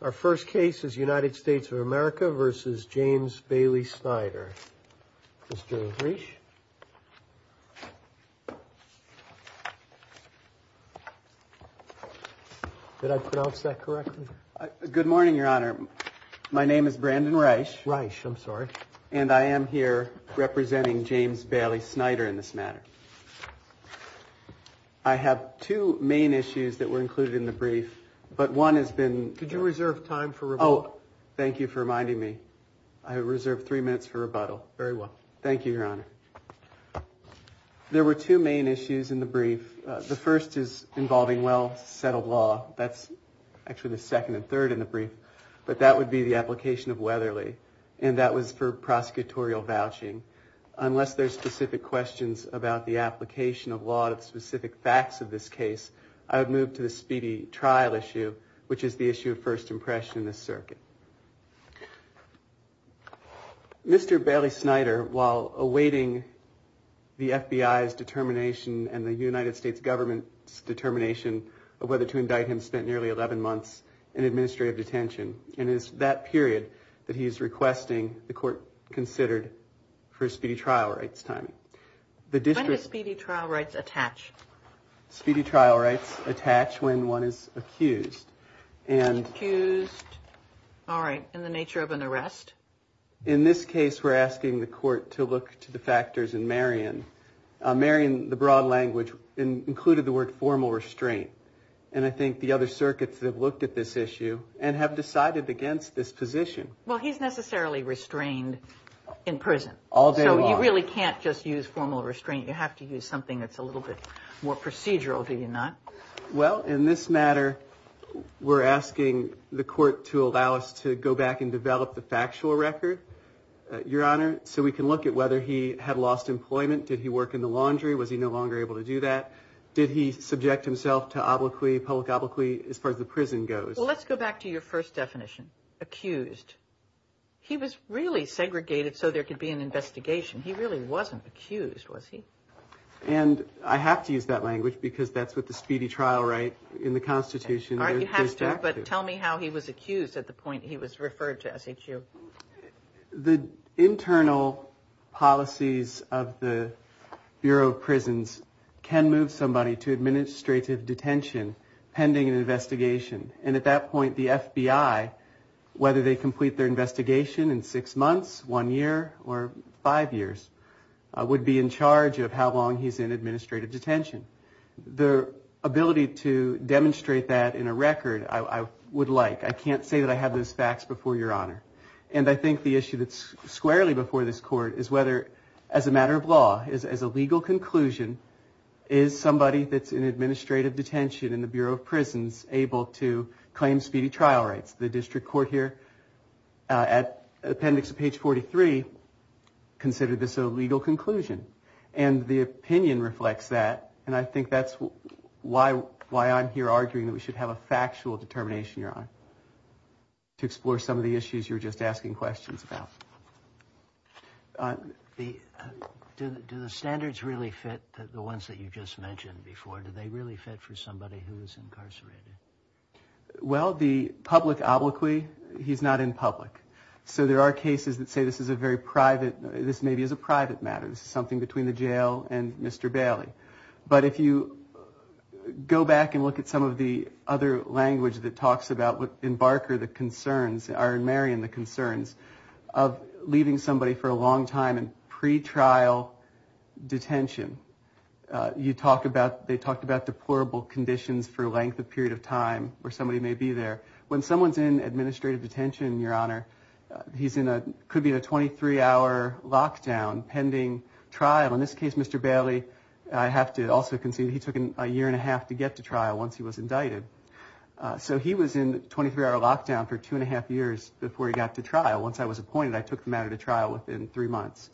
Our first case is United States of America v. James Bailey-Snyder. Mr. Riech. Did I pronounce that correctly? Good morning, Your Honor. My name is Brandon Riech. Riech. I'm sorry. And I am here representing James Bailey-Snyder in this matter. I have two main issues that were included in the brief, but one has been... Could you reserve time for rebuttal? Oh, thank you for reminding me. I reserve three minutes for rebuttal. Very well. Thank you, Your Honor. There were two main issues in the brief. The first is involving well-settled law. That's actually the second and third in the brief. But that would be the application of Weatherly, and that was for prosecutorial vouching. Unless there's specific questions about the application of law to specific facts of this case, I would move to the speedy trial issue, which is the issue of first impression in this circuit. Mr. Bailey-Snyder, while awaiting the FBI's determination and the United States government's determination of whether to indict him, spent nearly 11 months in administrative detention. And it's that period that he's requesting the court consider for speedy trial rights timing. When do speedy trial rights attach? Speedy trial rights attach when one is accused. Accused. All right. In the nature of an arrest? In this case, we're asking the court to look to the factors in Marion. Marion, the broad language, included the word formal restraint. And I think the other circuits have looked at this issue and have decided against this position. Well, he's necessarily restrained in prison. All day long. So you really can't just use formal restraint. You have to use something that's a little bit more procedural, do you not? Well, in this matter, we're asking the court to allow us to go back and develop the factual record, Your Honor, so we can look at whether he had lost employment. Did he work in the laundry? Was he no longer able to do that? Did he subject himself to public obloquy as far as the prison goes? Well, let's go back to your first definition. Accused. He was really segregated so there could be an investigation. He really wasn't accused, was he? And I have to use that language because that's what the speedy trial right in the Constitution. All right. You have to, but tell me how he was accused at the point he was referred to SHU. The internal policies of the Bureau of Prisons can move somebody to administrative detention pending an investigation. And at that point, the FBI, whether they complete their investigation in six months, one year or five years, would be in charge of how long he's in administrative detention. The ability to demonstrate that in a record, I would like. I can't say that I have those facts before Your Honor. And I think the issue that's squarely before this court is whether, as a matter of law, as a legal conclusion, is somebody that's in administrative detention in the Bureau of Prisons able to claim speedy trial rights? The district court here, at appendix page 43, considered this a legal conclusion. And the opinion reflects that. And I think that's why I'm here arguing that we should have a factual determination, Your Honor, to explore some of the issues you were just asking questions about. Do the standards really fit the ones that you just mentioned before? Do they really fit for somebody who is incarcerated? Well, the public obloquy, he's not in public. So there are cases that say this is a very private, this maybe is a private matter. This is something between the jail and Mr. Bailey. But if you go back and look at some of the other language that talks about, in Barker, the concerns, or in Marion, the concerns of leaving somebody for a long time in pretrial detention, they talked about deplorable conditions for a length of period of time where somebody may be there. When someone's in administrative detention, Your Honor, he could be in a 23-hour lockdown pending trial. In this case, Mr. Bailey, I have to also concede, he took a year and a half to get to trial once he was indicted. So he was in 23-hour lockdown for two and a half years before he got to trial. Once I was appointed, I took him out of the trial within three months.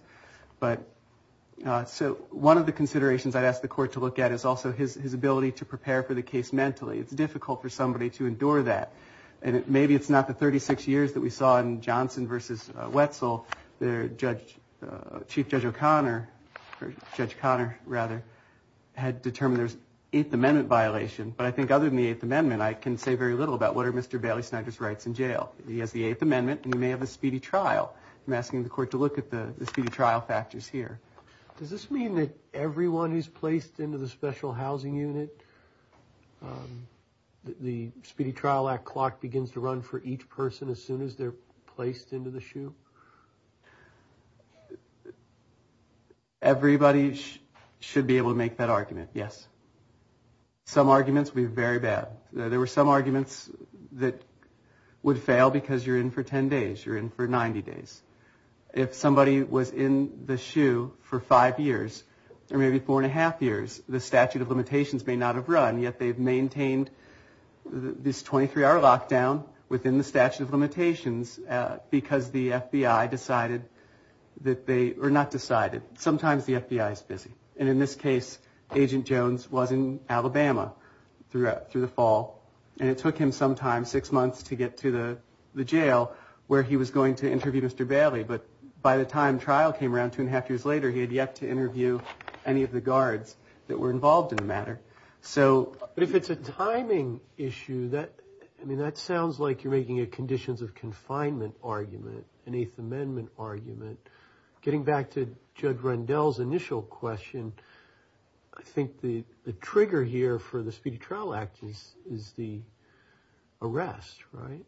So one of the considerations I'd ask the court to look at is also his ability to prepare for the case mentally. It's difficult for somebody to endure that. And maybe it's not the 36 years that we saw in Johnson versus Wetzel. Chief Judge O'Connor, or Judge Conner, rather, had determined there was an Eighth Amendment violation. But I think other than the Eighth Amendment, I can say very little about what are Mr. Bailey Snyder's rights in jail. He has the Eighth Amendment, and he may have a speedy trial. I'm asking the court to look at the speedy trial factors here. Does this mean that everyone who's placed into the special housing unit, the Speedy Trial Act clock begins to run for each person as soon as they're placed into the SHU? Everybody should be able to make that argument, yes. Some arguments will be very bad. There were some arguments that would fail because you're in for 10 days, you're in for 90 days. If somebody was in the SHU for five years, or maybe four and a half years, the statute of limitations may not have run, yet they've maintained this 23-hour lockdown within the statute of limitations because the FBI decided that they, or not decided. Sometimes the FBI is busy. And in this case, Agent Jones was in Alabama through the fall. And it took him some time, six months, to get to the jail where he was going to interview Mr. Bailey. But by the time trial came around two and a half years later, he had yet to interview any of the guards that were involved in the matter. But if it's a timing issue, that sounds like you're making a conditions of confinement argument, an Eighth Amendment argument. Getting back to Judge Rendell's initial question, I think the trigger here for the Speedy Trial Act is the arrest, right?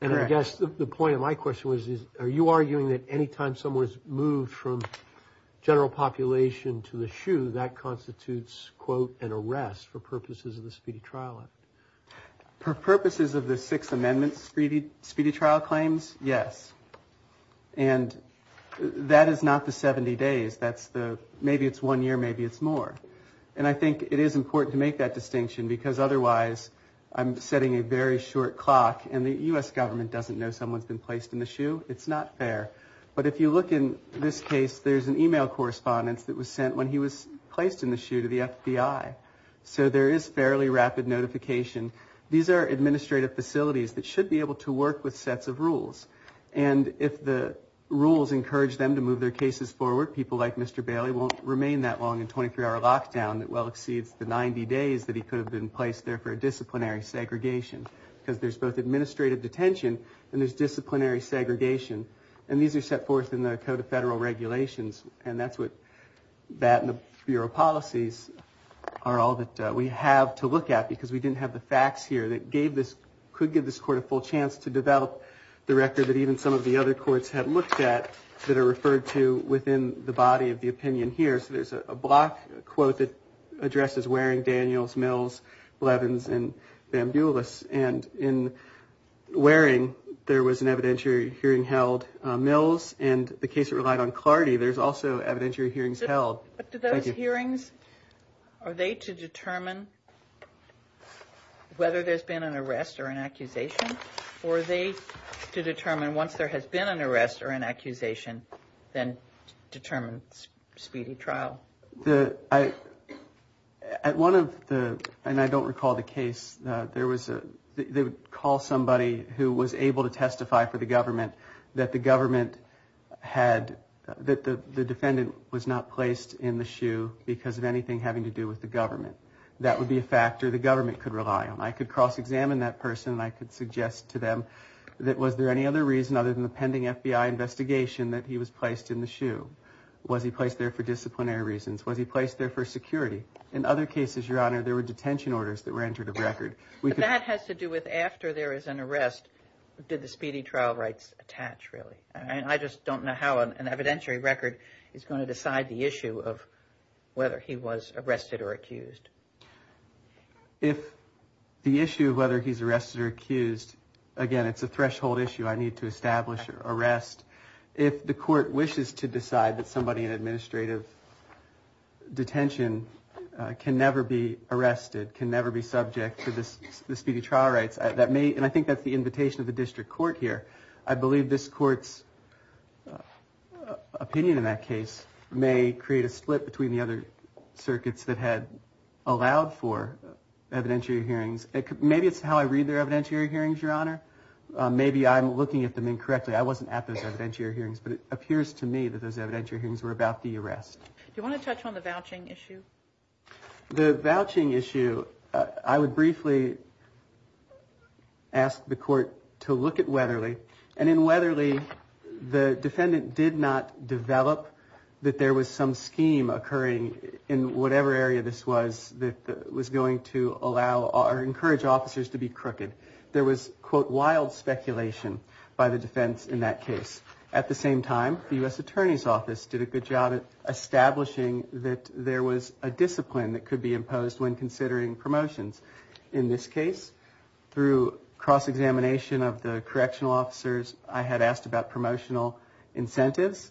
And I guess the point of my question was, are you arguing that anytime someone's moved from general population to the SHU, that constitutes, quote, an arrest for purposes of the Speedy Trial Act? For purposes of the Sixth Amendment Speedy Trial claims, yes. And that is not the 70 days. That's the maybe it's one year, maybe it's more. And I think it is important to make that distinction, because otherwise I'm setting a very short clock. And the U.S. government doesn't know someone's been placed in the SHU. It's not fair. But if you look in this case, there's an email correspondence that was sent when he was placed in the SHU to the FBI. So there is fairly rapid notification. These are administrative facilities that should be able to work with sets of rules. And if the rules encourage them to move their cases forward, people like Mr. Bailey won't remain that long in a 23-hour lockdown that well exceeds the 90 days that he could have been placed there for a disciplinary segregation, because there's both administrative detention and there's disciplinary segregation. And these are set forth in the Code of Federal Regulations. And that's what that and the bureau policies are all that we have to look at, because we didn't have the facts here that gave this, could give this court a full chance to develop the record that even some of the other courts have looked at that are referred to within the body of the opinion here. So there's a block quote that addresses Waring, Daniels, Mills, Blevins, and Bamboulas. And in Waring, there was an evidentiary hearing held. Mills and the case relied on clarity. There's also evidentiary hearings held. But do those hearings, are they to determine whether there's been an arrest or an accusation? Or are they to determine once there has been an arrest or an accusation, then determine speedy trial? At one of the, and I don't recall the case, there was a, they would call somebody who was able to testify for the government that the government had, that the defendant was not placed in the SHU because of anything having to do with the government. That would be a factor the government could rely on. I could cross-examine that person, and I could suggest to them that was there any other reason other than the pending FBI investigation that he was placed in the SHU? Was he placed there for disciplinary reasons? Was he placed there for security? In other cases, Your Honor, there were detention orders that were entered of record. But that has to do with after there is an arrest, did the speedy trial rights attach, really? I just don't know how an evidentiary record is going to decide the issue of whether he was arrested or accused. If the issue of whether he's arrested or accused, again, it's a threshold issue. I need to establish arrest. If the court wishes to decide that somebody in administrative detention can never be arrested, can never be subject to the speedy trial rights, that may, and I think that's the invitation of the district court here. I believe this court's opinion in that case may create a split between the other circuits that had allowed for evidentiary hearings. Maybe it's how I read their evidentiary hearings, Your Honor. Maybe I'm looking at them incorrectly. I wasn't at those evidentiary hearings. But it appears to me that those evidentiary hearings were about the arrest. Do you want to touch on the vouching issue? The vouching issue, I would briefly ask the court to look at Weatherly. And in Weatherly, the defendant did not develop that there was some scheme occurring in whatever area this was that was going to allow or encourage officers to be crooked. There was, quote, wild speculation by the defense in that case. At the same time, the U.S. Attorney's Office did a good job of establishing that there was a discipline that could be imposed when considering promotions. In this case, through cross-examination of the correctional officers, I had asked about promotional incentives.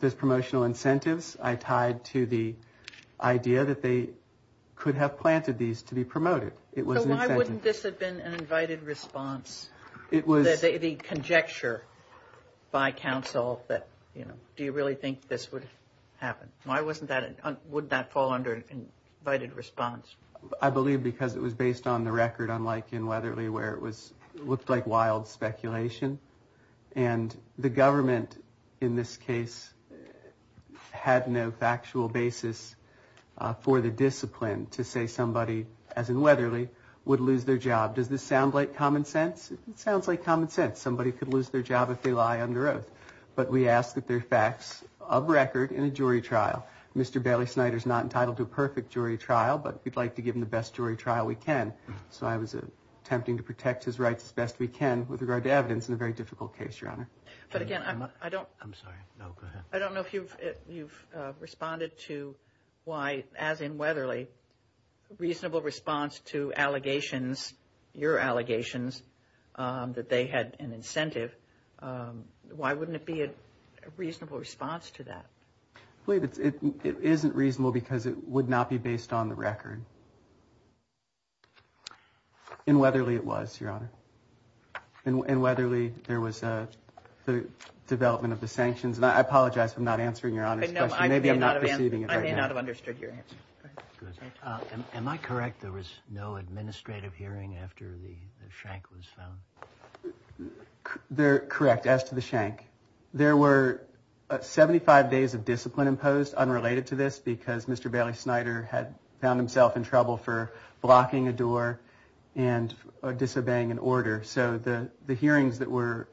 Those promotional incentives I tied to the idea that they could have planted these to be promoted. It was an incentive. So why wouldn't this have been an invited response? The conjecture by counsel that, you know, do you really think this would happen? Why wouldn't that fall under an invited response? I believe because it was based on the record, unlike in Weatherly, where it looked like wild speculation. And the government, in this case, had no factual basis for the discipline to say somebody, as in Weatherly, would lose their job. Does this sound like common sense? It sounds like common sense. Somebody could lose their job if they lie under oath. But we ask that there are facts of record in a jury trial. Mr. Bailey Snyder is not entitled to a perfect jury trial, but we'd like to give him the best jury trial we can. So I was attempting to protect his rights as best we can with regard to evidence in a very difficult case, Your Honor. But again, I don't know if you've responded to why, as in Weatherly, reasonable response to allegations, your allegations, that they had an incentive. Why wouldn't it be a reasonable response to that? I believe it isn't reasonable because it would not be based on the record. In Weatherly, it was, Your Honor. In Weatherly, there was the development of the sanctions. And I apologize for not answering Your Honor's question. Maybe I'm not perceiving it right now. I may not have understood your answer. Am I correct there was no administrative hearing after the Schenck was found? Correct, as to the Schenck. There were 75 days of discipline imposed unrelated to this because Mr. Bailey Snyder had found himself in trouble for blocking a door and disobeying an order. So the hearings that were,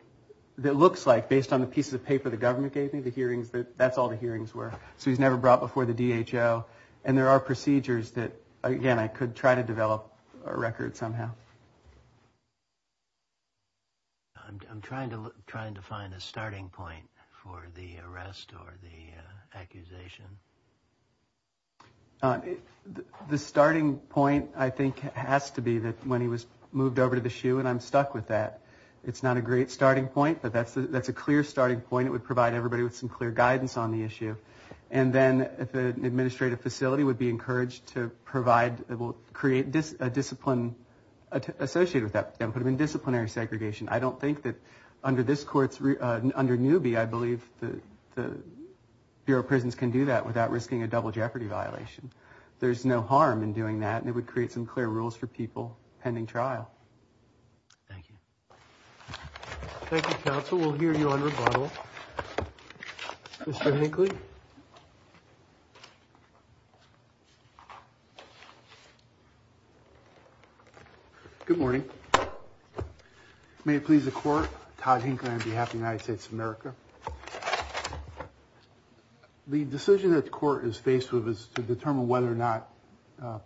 that looks like, based on the pieces of paper the government gave me, the hearings, that's all the hearings were. So he was never brought before the DHO. And there are procedures that, again, I could try to develop a record somehow. I'm trying to find a starting point for the arrest or the accusation. The starting point, I think, has to be that when he was moved over to the SHU, and I'm stuck with that. It's not a great starting point, but that's a clear starting point. It would provide everybody with some clear guidance on the issue. And then an administrative facility would be encouraged to provide, it will create a discipline associated with that, put them in disciplinary segregation. I don't think that under this court's, under Newby, I believe the Bureau of Prisons can do that without risking a double jeopardy violation. There's no harm in doing that, and it would create some clear rules for people pending trial. Thank you. Thank you, counsel. We'll hear you on rebuttal. Mr. Hinckley? Good morning. May it please the court, Todd Hinckley on behalf of the United States of America. The decision that the court is faced with is to determine whether or not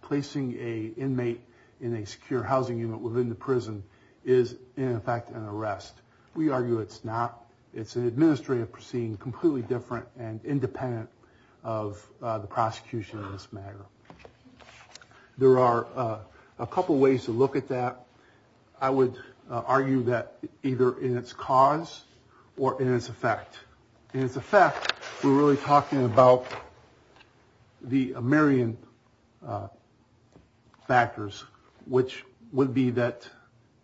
placing an inmate in a secure housing unit within the prison is, in effect, an arrest. We argue it's not. It's an administrative proceeding completely different and independent of the prosecution in this matter. There are a couple ways to look at that. I would argue that either in its cause or in its effect. In its effect, we're really talking about the Marion factors, which would be that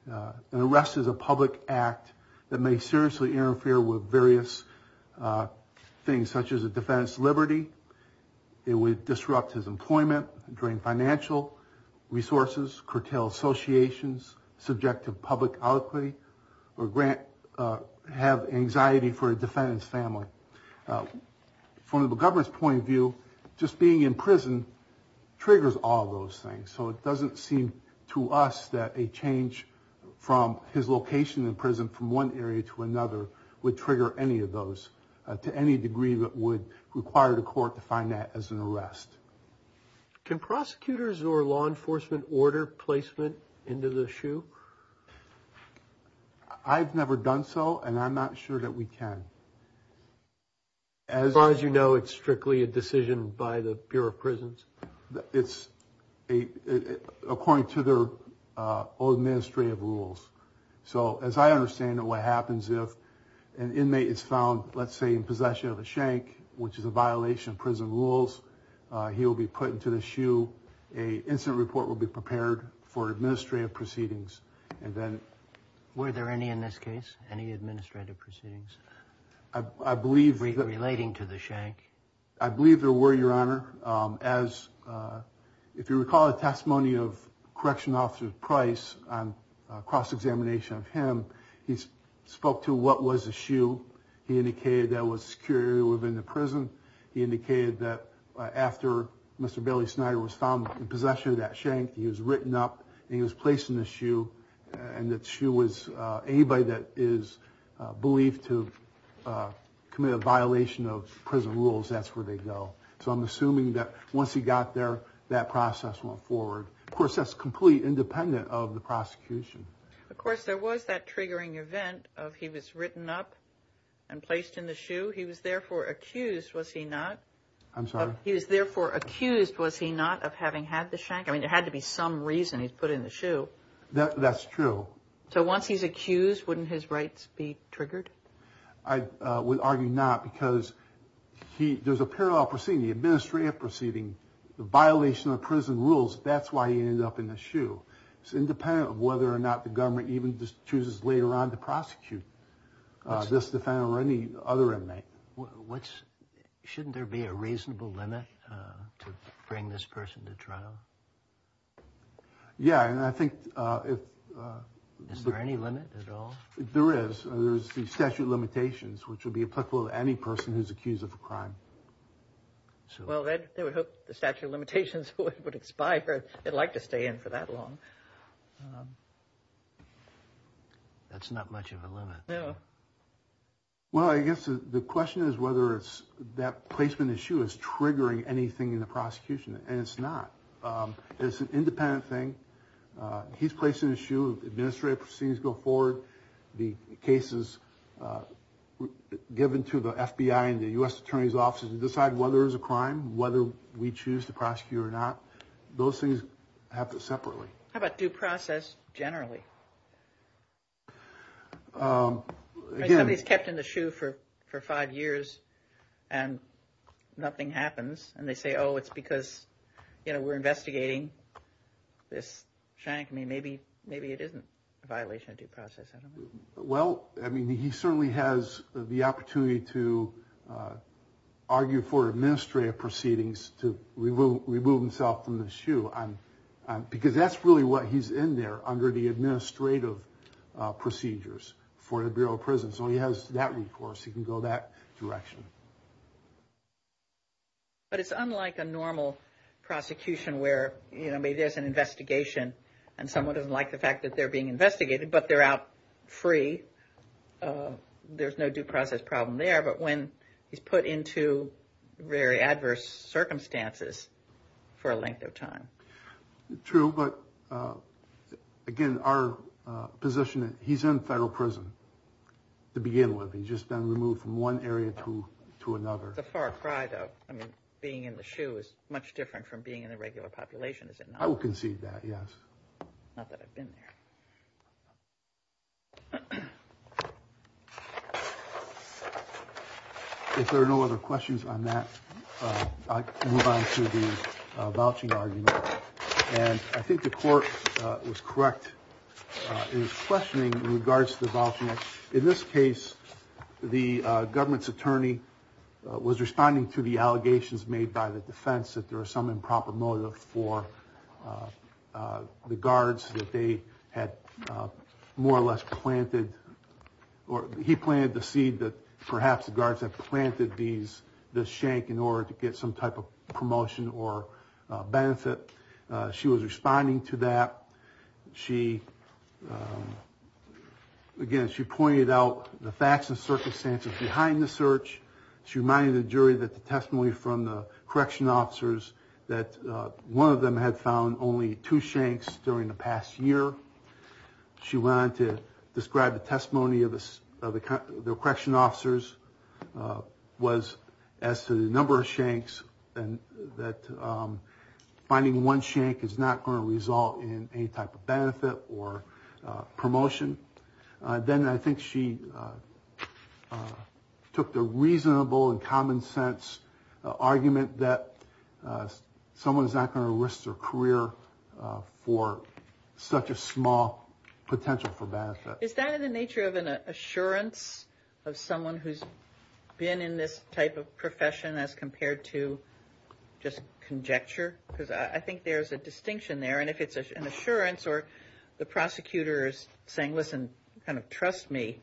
an arrest is a public act that may seriously interfere with various things, such as a defendant's liberty. It would disrupt his employment, drain financial resources, curtail associations, subject to public alacrity, or have anxiety for a defendant's family. From the governor's point of view, just being in prison triggers all those things. So it doesn't seem to us that a change from his location in prison from one area to another would trigger any of those, to any degree that would require the court to find that as an arrest. Can prosecutors or law enforcement order placement into the SHU? I've never done so, and I'm not sure that we can. As far as you know, it's strictly a decision by the Bureau of Prisons? It's according to their own administrative rules. So as I understand it, what happens if an inmate is found, let's say, in possession of a shank, which is a violation of prison rules, he will be put into the SHU. An incident report will be prepared for administrative proceedings. Were there any in this case, any administrative proceedings relating to the shank? I believe there were, Your Honor. If you recall the testimony of Correction Officer Price on cross-examination of him, he spoke to what was the SHU. He indicated there was security within the prison. He indicated that after Mr. Bailey Snyder was found in possession of that shank, he was written up and he was placed in the SHU, and that SHU was anybody that is believed to have committed a violation of prison rules, that's where they go. So I'm assuming that once he got there, that process went forward. Of course, that's completely independent of the prosecution. Of course, there was that triggering event of he was written up and placed in the SHU. He was therefore accused, was he not? I'm sorry? He was therefore accused, was he not, of having had the shank? I mean, there had to be some reason he was put in the SHU. That's true. So once he's accused, wouldn't his rights be triggered? I would argue not because there's a parallel proceeding, the administrative proceeding, the violation of prison rules, that's why he ended up in the SHU. It's independent of whether or not the government even chooses later on to prosecute this defendant or any other inmate. Shouldn't there be a reasonable limit to bring this person to trial? Yeah, and I think if... Is there any limit at all? There is. There's the statute of limitations, which would be applicable to any person who's accused of a crime. Well, they would hope the statute of limitations would expire. They'd like to stay in for that long. That's not much of a limit. No. Well, I guess the question is whether that placement in the SHU is triggering anything in the prosecution, and it's not. It's an independent thing. He's placed in the SHU. Administrative proceedings go forward. The cases given to the FBI and the U.S. Attorney's offices decide whether it's a crime, whether we choose to prosecute or not. Those things happen separately. How about due process generally? Somebody's kept in the SHU for five years and nothing happens, and they say, oh, it's because, you know, we're investigating this shank. I mean, maybe it isn't a violation of due process. Well, I mean, he certainly has the opportunity to argue for administrative proceedings to remove himself from the SHU, because that's really what he's in there under the administrative procedures for the Bureau of Prisons. So he has that recourse. He can go that direction. But it's unlike a normal prosecution where, you know, maybe there's an investigation and someone doesn't like the fact that they're being investigated, but they're out free. There's no due process problem there. But when he's put into very adverse circumstances for a length of time. True. But, again, our position is he's in federal prison to begin with. He's just been removed from one area to another. It's a far cry, though. I mean, being in the SHU is much different from being in a regular population, is it not? I would concede that, yes. Not that I've been there. If there are no other questions on that, I move on to the vouching argument. And I think the court was correct in its questioning in regards to the vouching argument. In this case, the government's attorney was responding to the allegations made by the defense that there was some improper motive for the guards that they had more or less planted. He planted the seed that perhaps the guards had planted this shank in order to get some type of promotion or benefit. She was responding to that. She, again, she pointed out the facts and circumstances behind the search. She reminded the jury that the testimony from the correction officers, that one of them had found only two shanks during the past year. She went on to describe the testimony of the correction officers was as to the number of shanks and that finding one shank is not going to result in any type of benefit or promotion. Then I think she took the reasonable and common sense argument that someone is not going to risk their career for such a small potential for benefit. Is that in the nature of an assurance of someone who's been in this type of profession as compared to just conjecture? Because I think there's a distinction there. And if it's an assurance or the prosecutor is saying, listen, kind of trust me.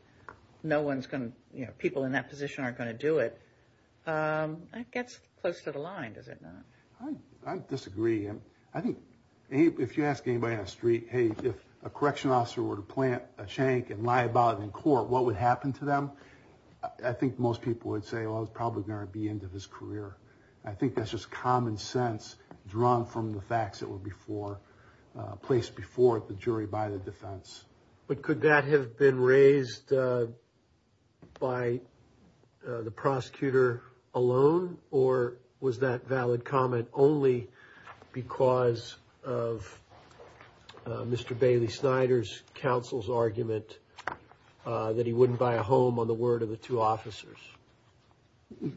No one's going to, you know, people in that position aren't going to do it. It gets close to the line, does it not? I disagree. I think if you ask anybody on the street, hey, if a correction officer were to plant a shank and lie about it in court, what would happen to them? I think most people would say, well, it's probably going to be the end of his career. I think that's just common sense drawn from the facts that were before, placed before the jury by the defense. But could that have been raised by the prosecutor alone, or was that valid comment only because of Mr. Bailey Snyder's counsel's argument that he wouldn't buy a home on the word of the two officers?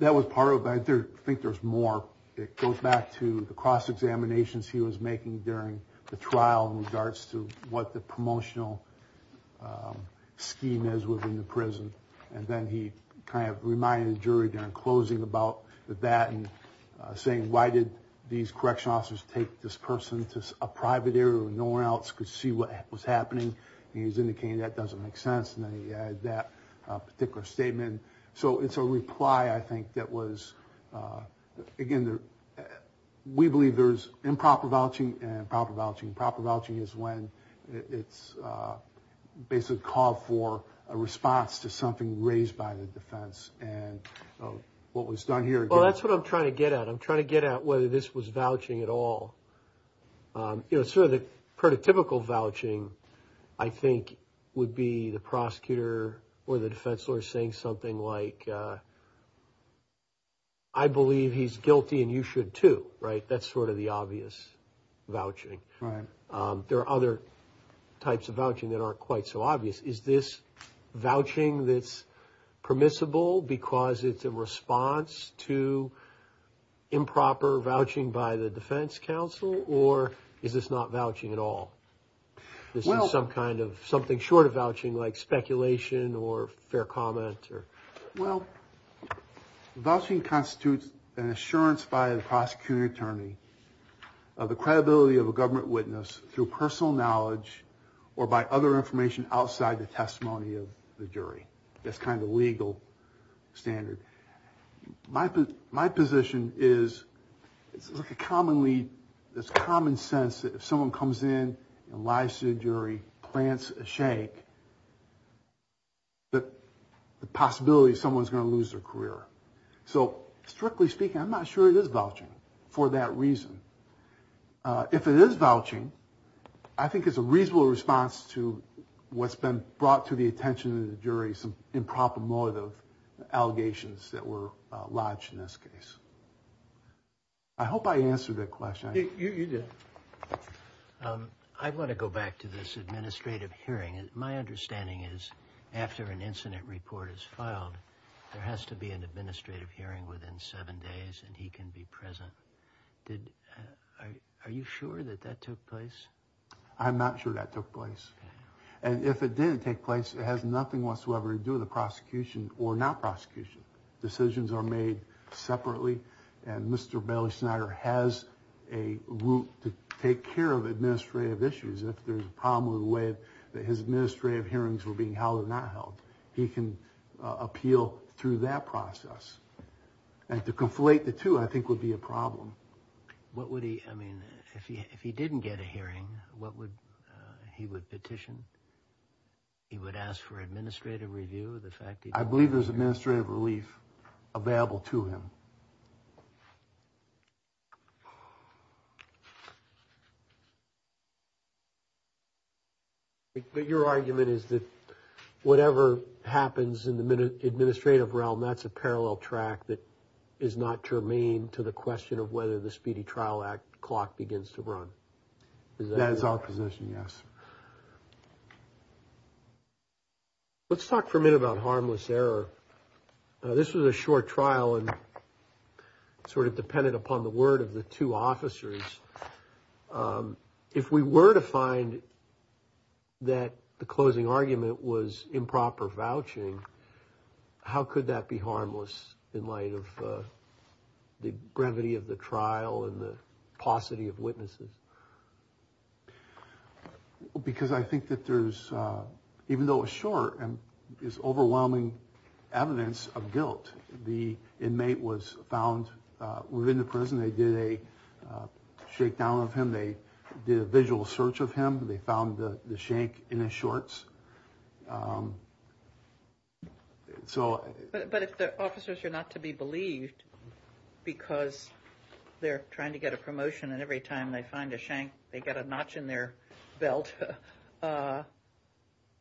That was part of it, but I think there's more. It goes back to the cross-examinations he was making during the trial in regards to what the promotional scheme is within the prison. And then he kind of reminded the jury during closing about that and saying, why did these correction officers take this person to a private area where no one else could see what was happening? And he was indicating that doesn't make sense, and then he added that particular statement. So it's a reply, I think, that was, again, we believe there's improper vouching and proper vouching. Proper vouching is when it's basically called for a response to something raised by the defense. And what was done here. Well, that's what I'm trying to get at. I'm trying to get at whether this was vouching at all. You know, sort of the prototypical vouching, I think, would be the prosecutor or the defense lawyer saying something like, I believe he's guilty and you should too. Right? That's sort of the obvious vouching. There are other types of vouching that aren't quite so obvious. Is this vouching that's permissible because it's a response to improper vouching by the defense counsel, or is this not vouching at all? This is some kind of something short of vouching like speculation or fair comment. Well, vouching constitutes an assurance by the prosecuting attorney of the credibility of a government witness through personal knowledge or by other information outside the testimony of the jury. That's kind of the legal standard. My position is it's like a commonly, it's common sense that if someone comes in and lies to the jury, plants a shank, the possibility someone's going to lose their career. So strictly speaking, I'm not sure it is vouching for that reason. If it is vouching, I think it's a reasonable response to what's been brought to the attention of the jury, some improper motive allegations that were lodged in this case. I hope I answered that question. You did. I want to go back to this administrative hearing. My understanding is after an incident report is filed, there has to be an administrative hearing within seven days and he can be present. Are you sure that that took place? I'm not sure that took place. And if it didn't take place, it has nothing whatsoever to do with the prosecution or not prosecution. Decisions are made separately. And Mr. Bailey Snyder has a route to take care of administrative issues. If there's a problem with the way that his administrative hearings were being held or not held, he can appeal through that process. And to conflate the two, I think, would be a problem. What would he, I mean, if he didn't get a hearing, what would, he would petition? He would ask for administrative review of the fact that... I believe there's administrative relief available to him. But your argument is that whatever happens in the administrative realm, that's a parallel track that is not germane to the question of whether the Speedy Trial Act clock begins to run. That is our position, yes. Let's talk for a minute about harmless error. This was a short trial and sort of depended upon the word of the two officers. If we were to find that the closing argument was improper vouching, how could that be harmless in light of the brevity of the trial and the paucity of witnesses? Because I think that there's, even though a short is overwhelming evidence of guilt, the inmate was found within the prison. They did a shakedown of him. They did a visual search of him. They found the shank in his shorts. But if the officers are not to be believed because they're trying to get a promotion and every time they find a shank, they get a notch in their belt, I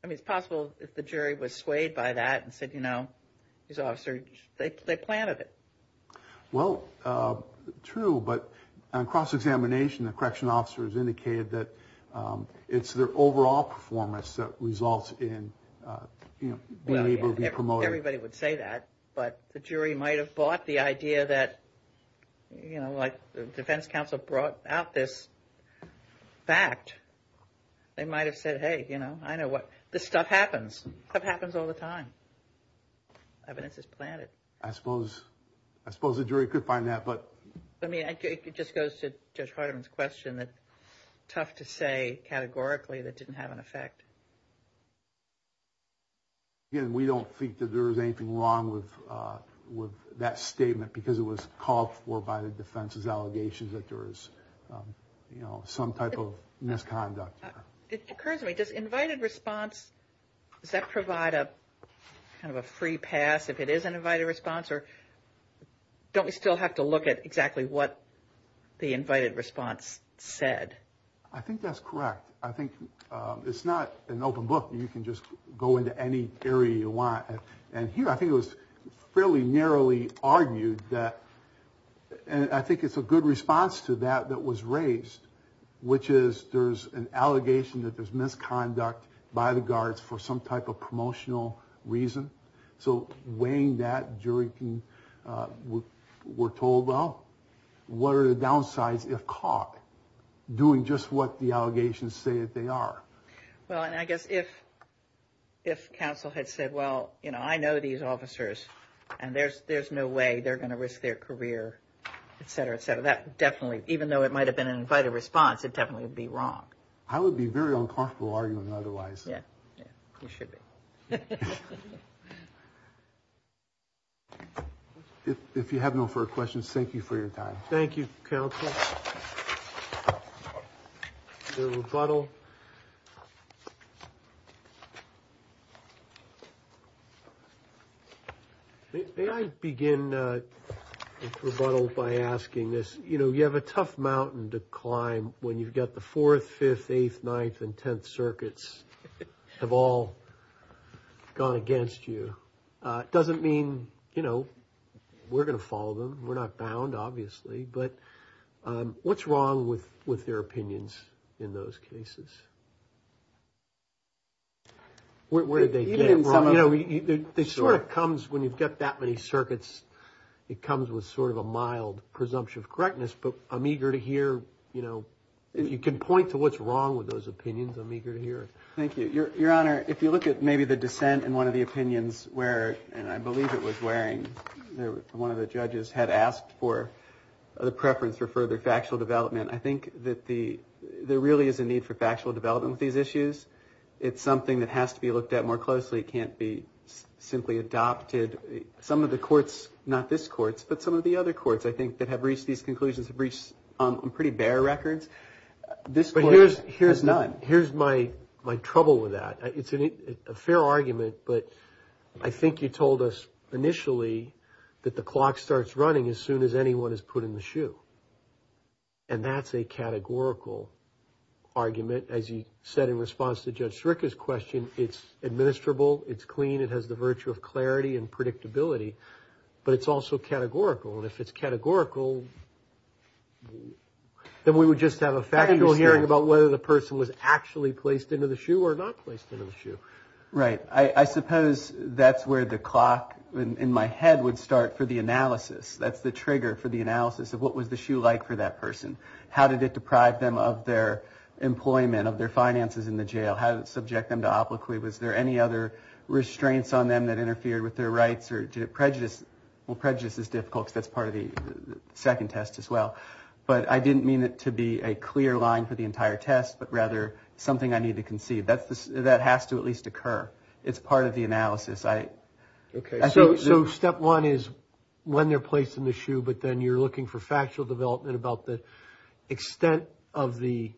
mean, it's possible if the jury was swayed by that and said, you know, these officers, they planted it. Well, true, but on cross-examination, the correctional officers indicated that it's their overall performance that results in being able to be promoted. Everybody would say that. But the jury might have bought the idea that, you know, like the defense counsel brought out this fact. They might have said, hey, you know, I know what, this stuff happens. Stuff happens all the time. Evidence is planted. I suppose the jury could find that, but. I mean, it just goes to Judge Hardeman's question that tough to say categorically that didn't have an effect. Again, we don't think that there is anything wrong with that statement because it was called for by the defense's allegations that there is, you know, some type of misconduct. It occurs to me, does invited response, does that provide a kind of a free pass if it is an invited response? Or don't we still have to look at exactly what the invited response said? I think that's correct. I think it's not an open book. You can just go into any area you want. And here I think it was fairly narrowly argued that, and I think it's a good response to that that was raised, which is there's an allegation that there's misconduct by the guards for some type of promotional reason. So weighing that, jury were told, well, what are the downsides if caught doing just what the allegations say that they are? Well, and I guess if counsel had said, well, you know, I know these officers, and there's no way they're going to risk their career, et cetera, et cetera, that definitely, even though it might have been an invited response, it definitely would be wrong. I would be very uncomfortable arguing otherwise. Yeah, you should be. If you have no further questions, thank you for your time. The rebuttal. May I begin rebuttal by asking this? You know, you have a tough mountain to climb when you've got the fourth, fifth, eighth, ninth and tenth circuits have all gone against you. It doesn't mean, you know, we're going to follow them. We're not bound, obviously. But what's wrong with their opinions in those cases? Where did they get it wrong? You know, it sort of comes when you've got that many circuits, it comes with sort of a mild presumption of correctness. But I'm eager to hear, you know, if you can point to what's wrong with those opinions, I'm eager to hear it. Thank you, Your Honor. If you look at maybe the dissent in one of the opinions where, and I believe it was wearing, one of the judges had asked for the preference for further factual development. I think that there really is a need for factual development with these issues. It's something that has to be looked at more closely. It can't be simply adopted. Some of the courts, not this court, but some of the other courts, I think, that have reached these conclusions have reached some pretty bare records. This court has none. Here's my trouble with that. It's a fair argument, but I think you told us initially that the clock starts running as soon as anyone is put in the shoe. And that's a categorical argument. As you said in response to Judge Schricker's question, it's administrable, it's clean, it has the virtue of clarity and predictability. But it's also categorical. And if it's categorical, then we would just have a factual hearing about whether the person was actually placed into the shoe or not placed in the shoe. Right. I suppose that's where the clock in my head would start for the analysis. That's the trigger for the analysis of what was the shoe like for that person. How did it deprive them of their employment, of their finances in the jail? How did it subject them to obloquy? Was there any other restraints on them that interfered with their rights? Or did it prejudice? Well, prejudice is difficult because that's part of the second test as well. But I didn't mean it to be a clear line for the entire test, but rather something I need to conceive. That has to at least occur. It's part of the analysis. Okay. So step one is when they're placed in the shoe, but then you're looking for factual development about the extent of the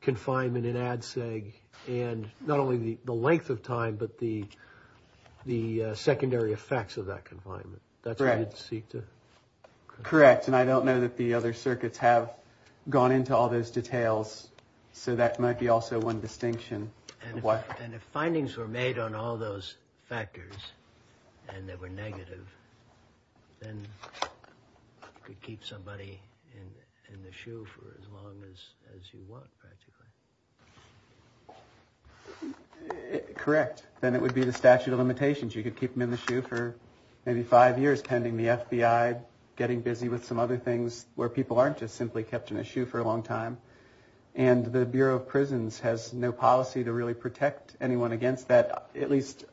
confinement in ADSEG and not only the length of time, but the secondary effects of that confinement. Correct. And I don't know that the other circuits have gone into all those details. So that might be also one distinction. And if findings were made on all those factors and they were negative, then you could keep somebody in the shoe for as long as you want, practically. Correct. Then it would be the statute of limitations. You could keep them in the shoe for maybe five years pending the FBI getting busy with some other things where people aren't just simply kept in a shoe for a long time. And the Bureau of Prisons has no policy to really protect anyone against that. At least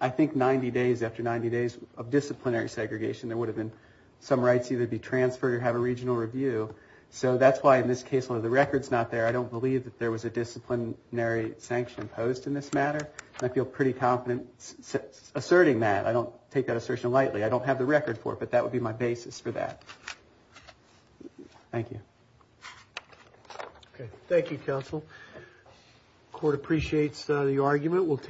I think 90 days after 90 days of disciplinary segregation, there would have been some rights either be transferred or have a regional review. So that's why in this case, although the record's not there, I don't believe that there was a disciplinary sanction imposed in this matter. And I feel pretty confident asserting that. I don't take that assertion lightly. I don't have the record for it, but that would be my basis for that. Thank you. Thank you, counsel. Court appreciates the argument.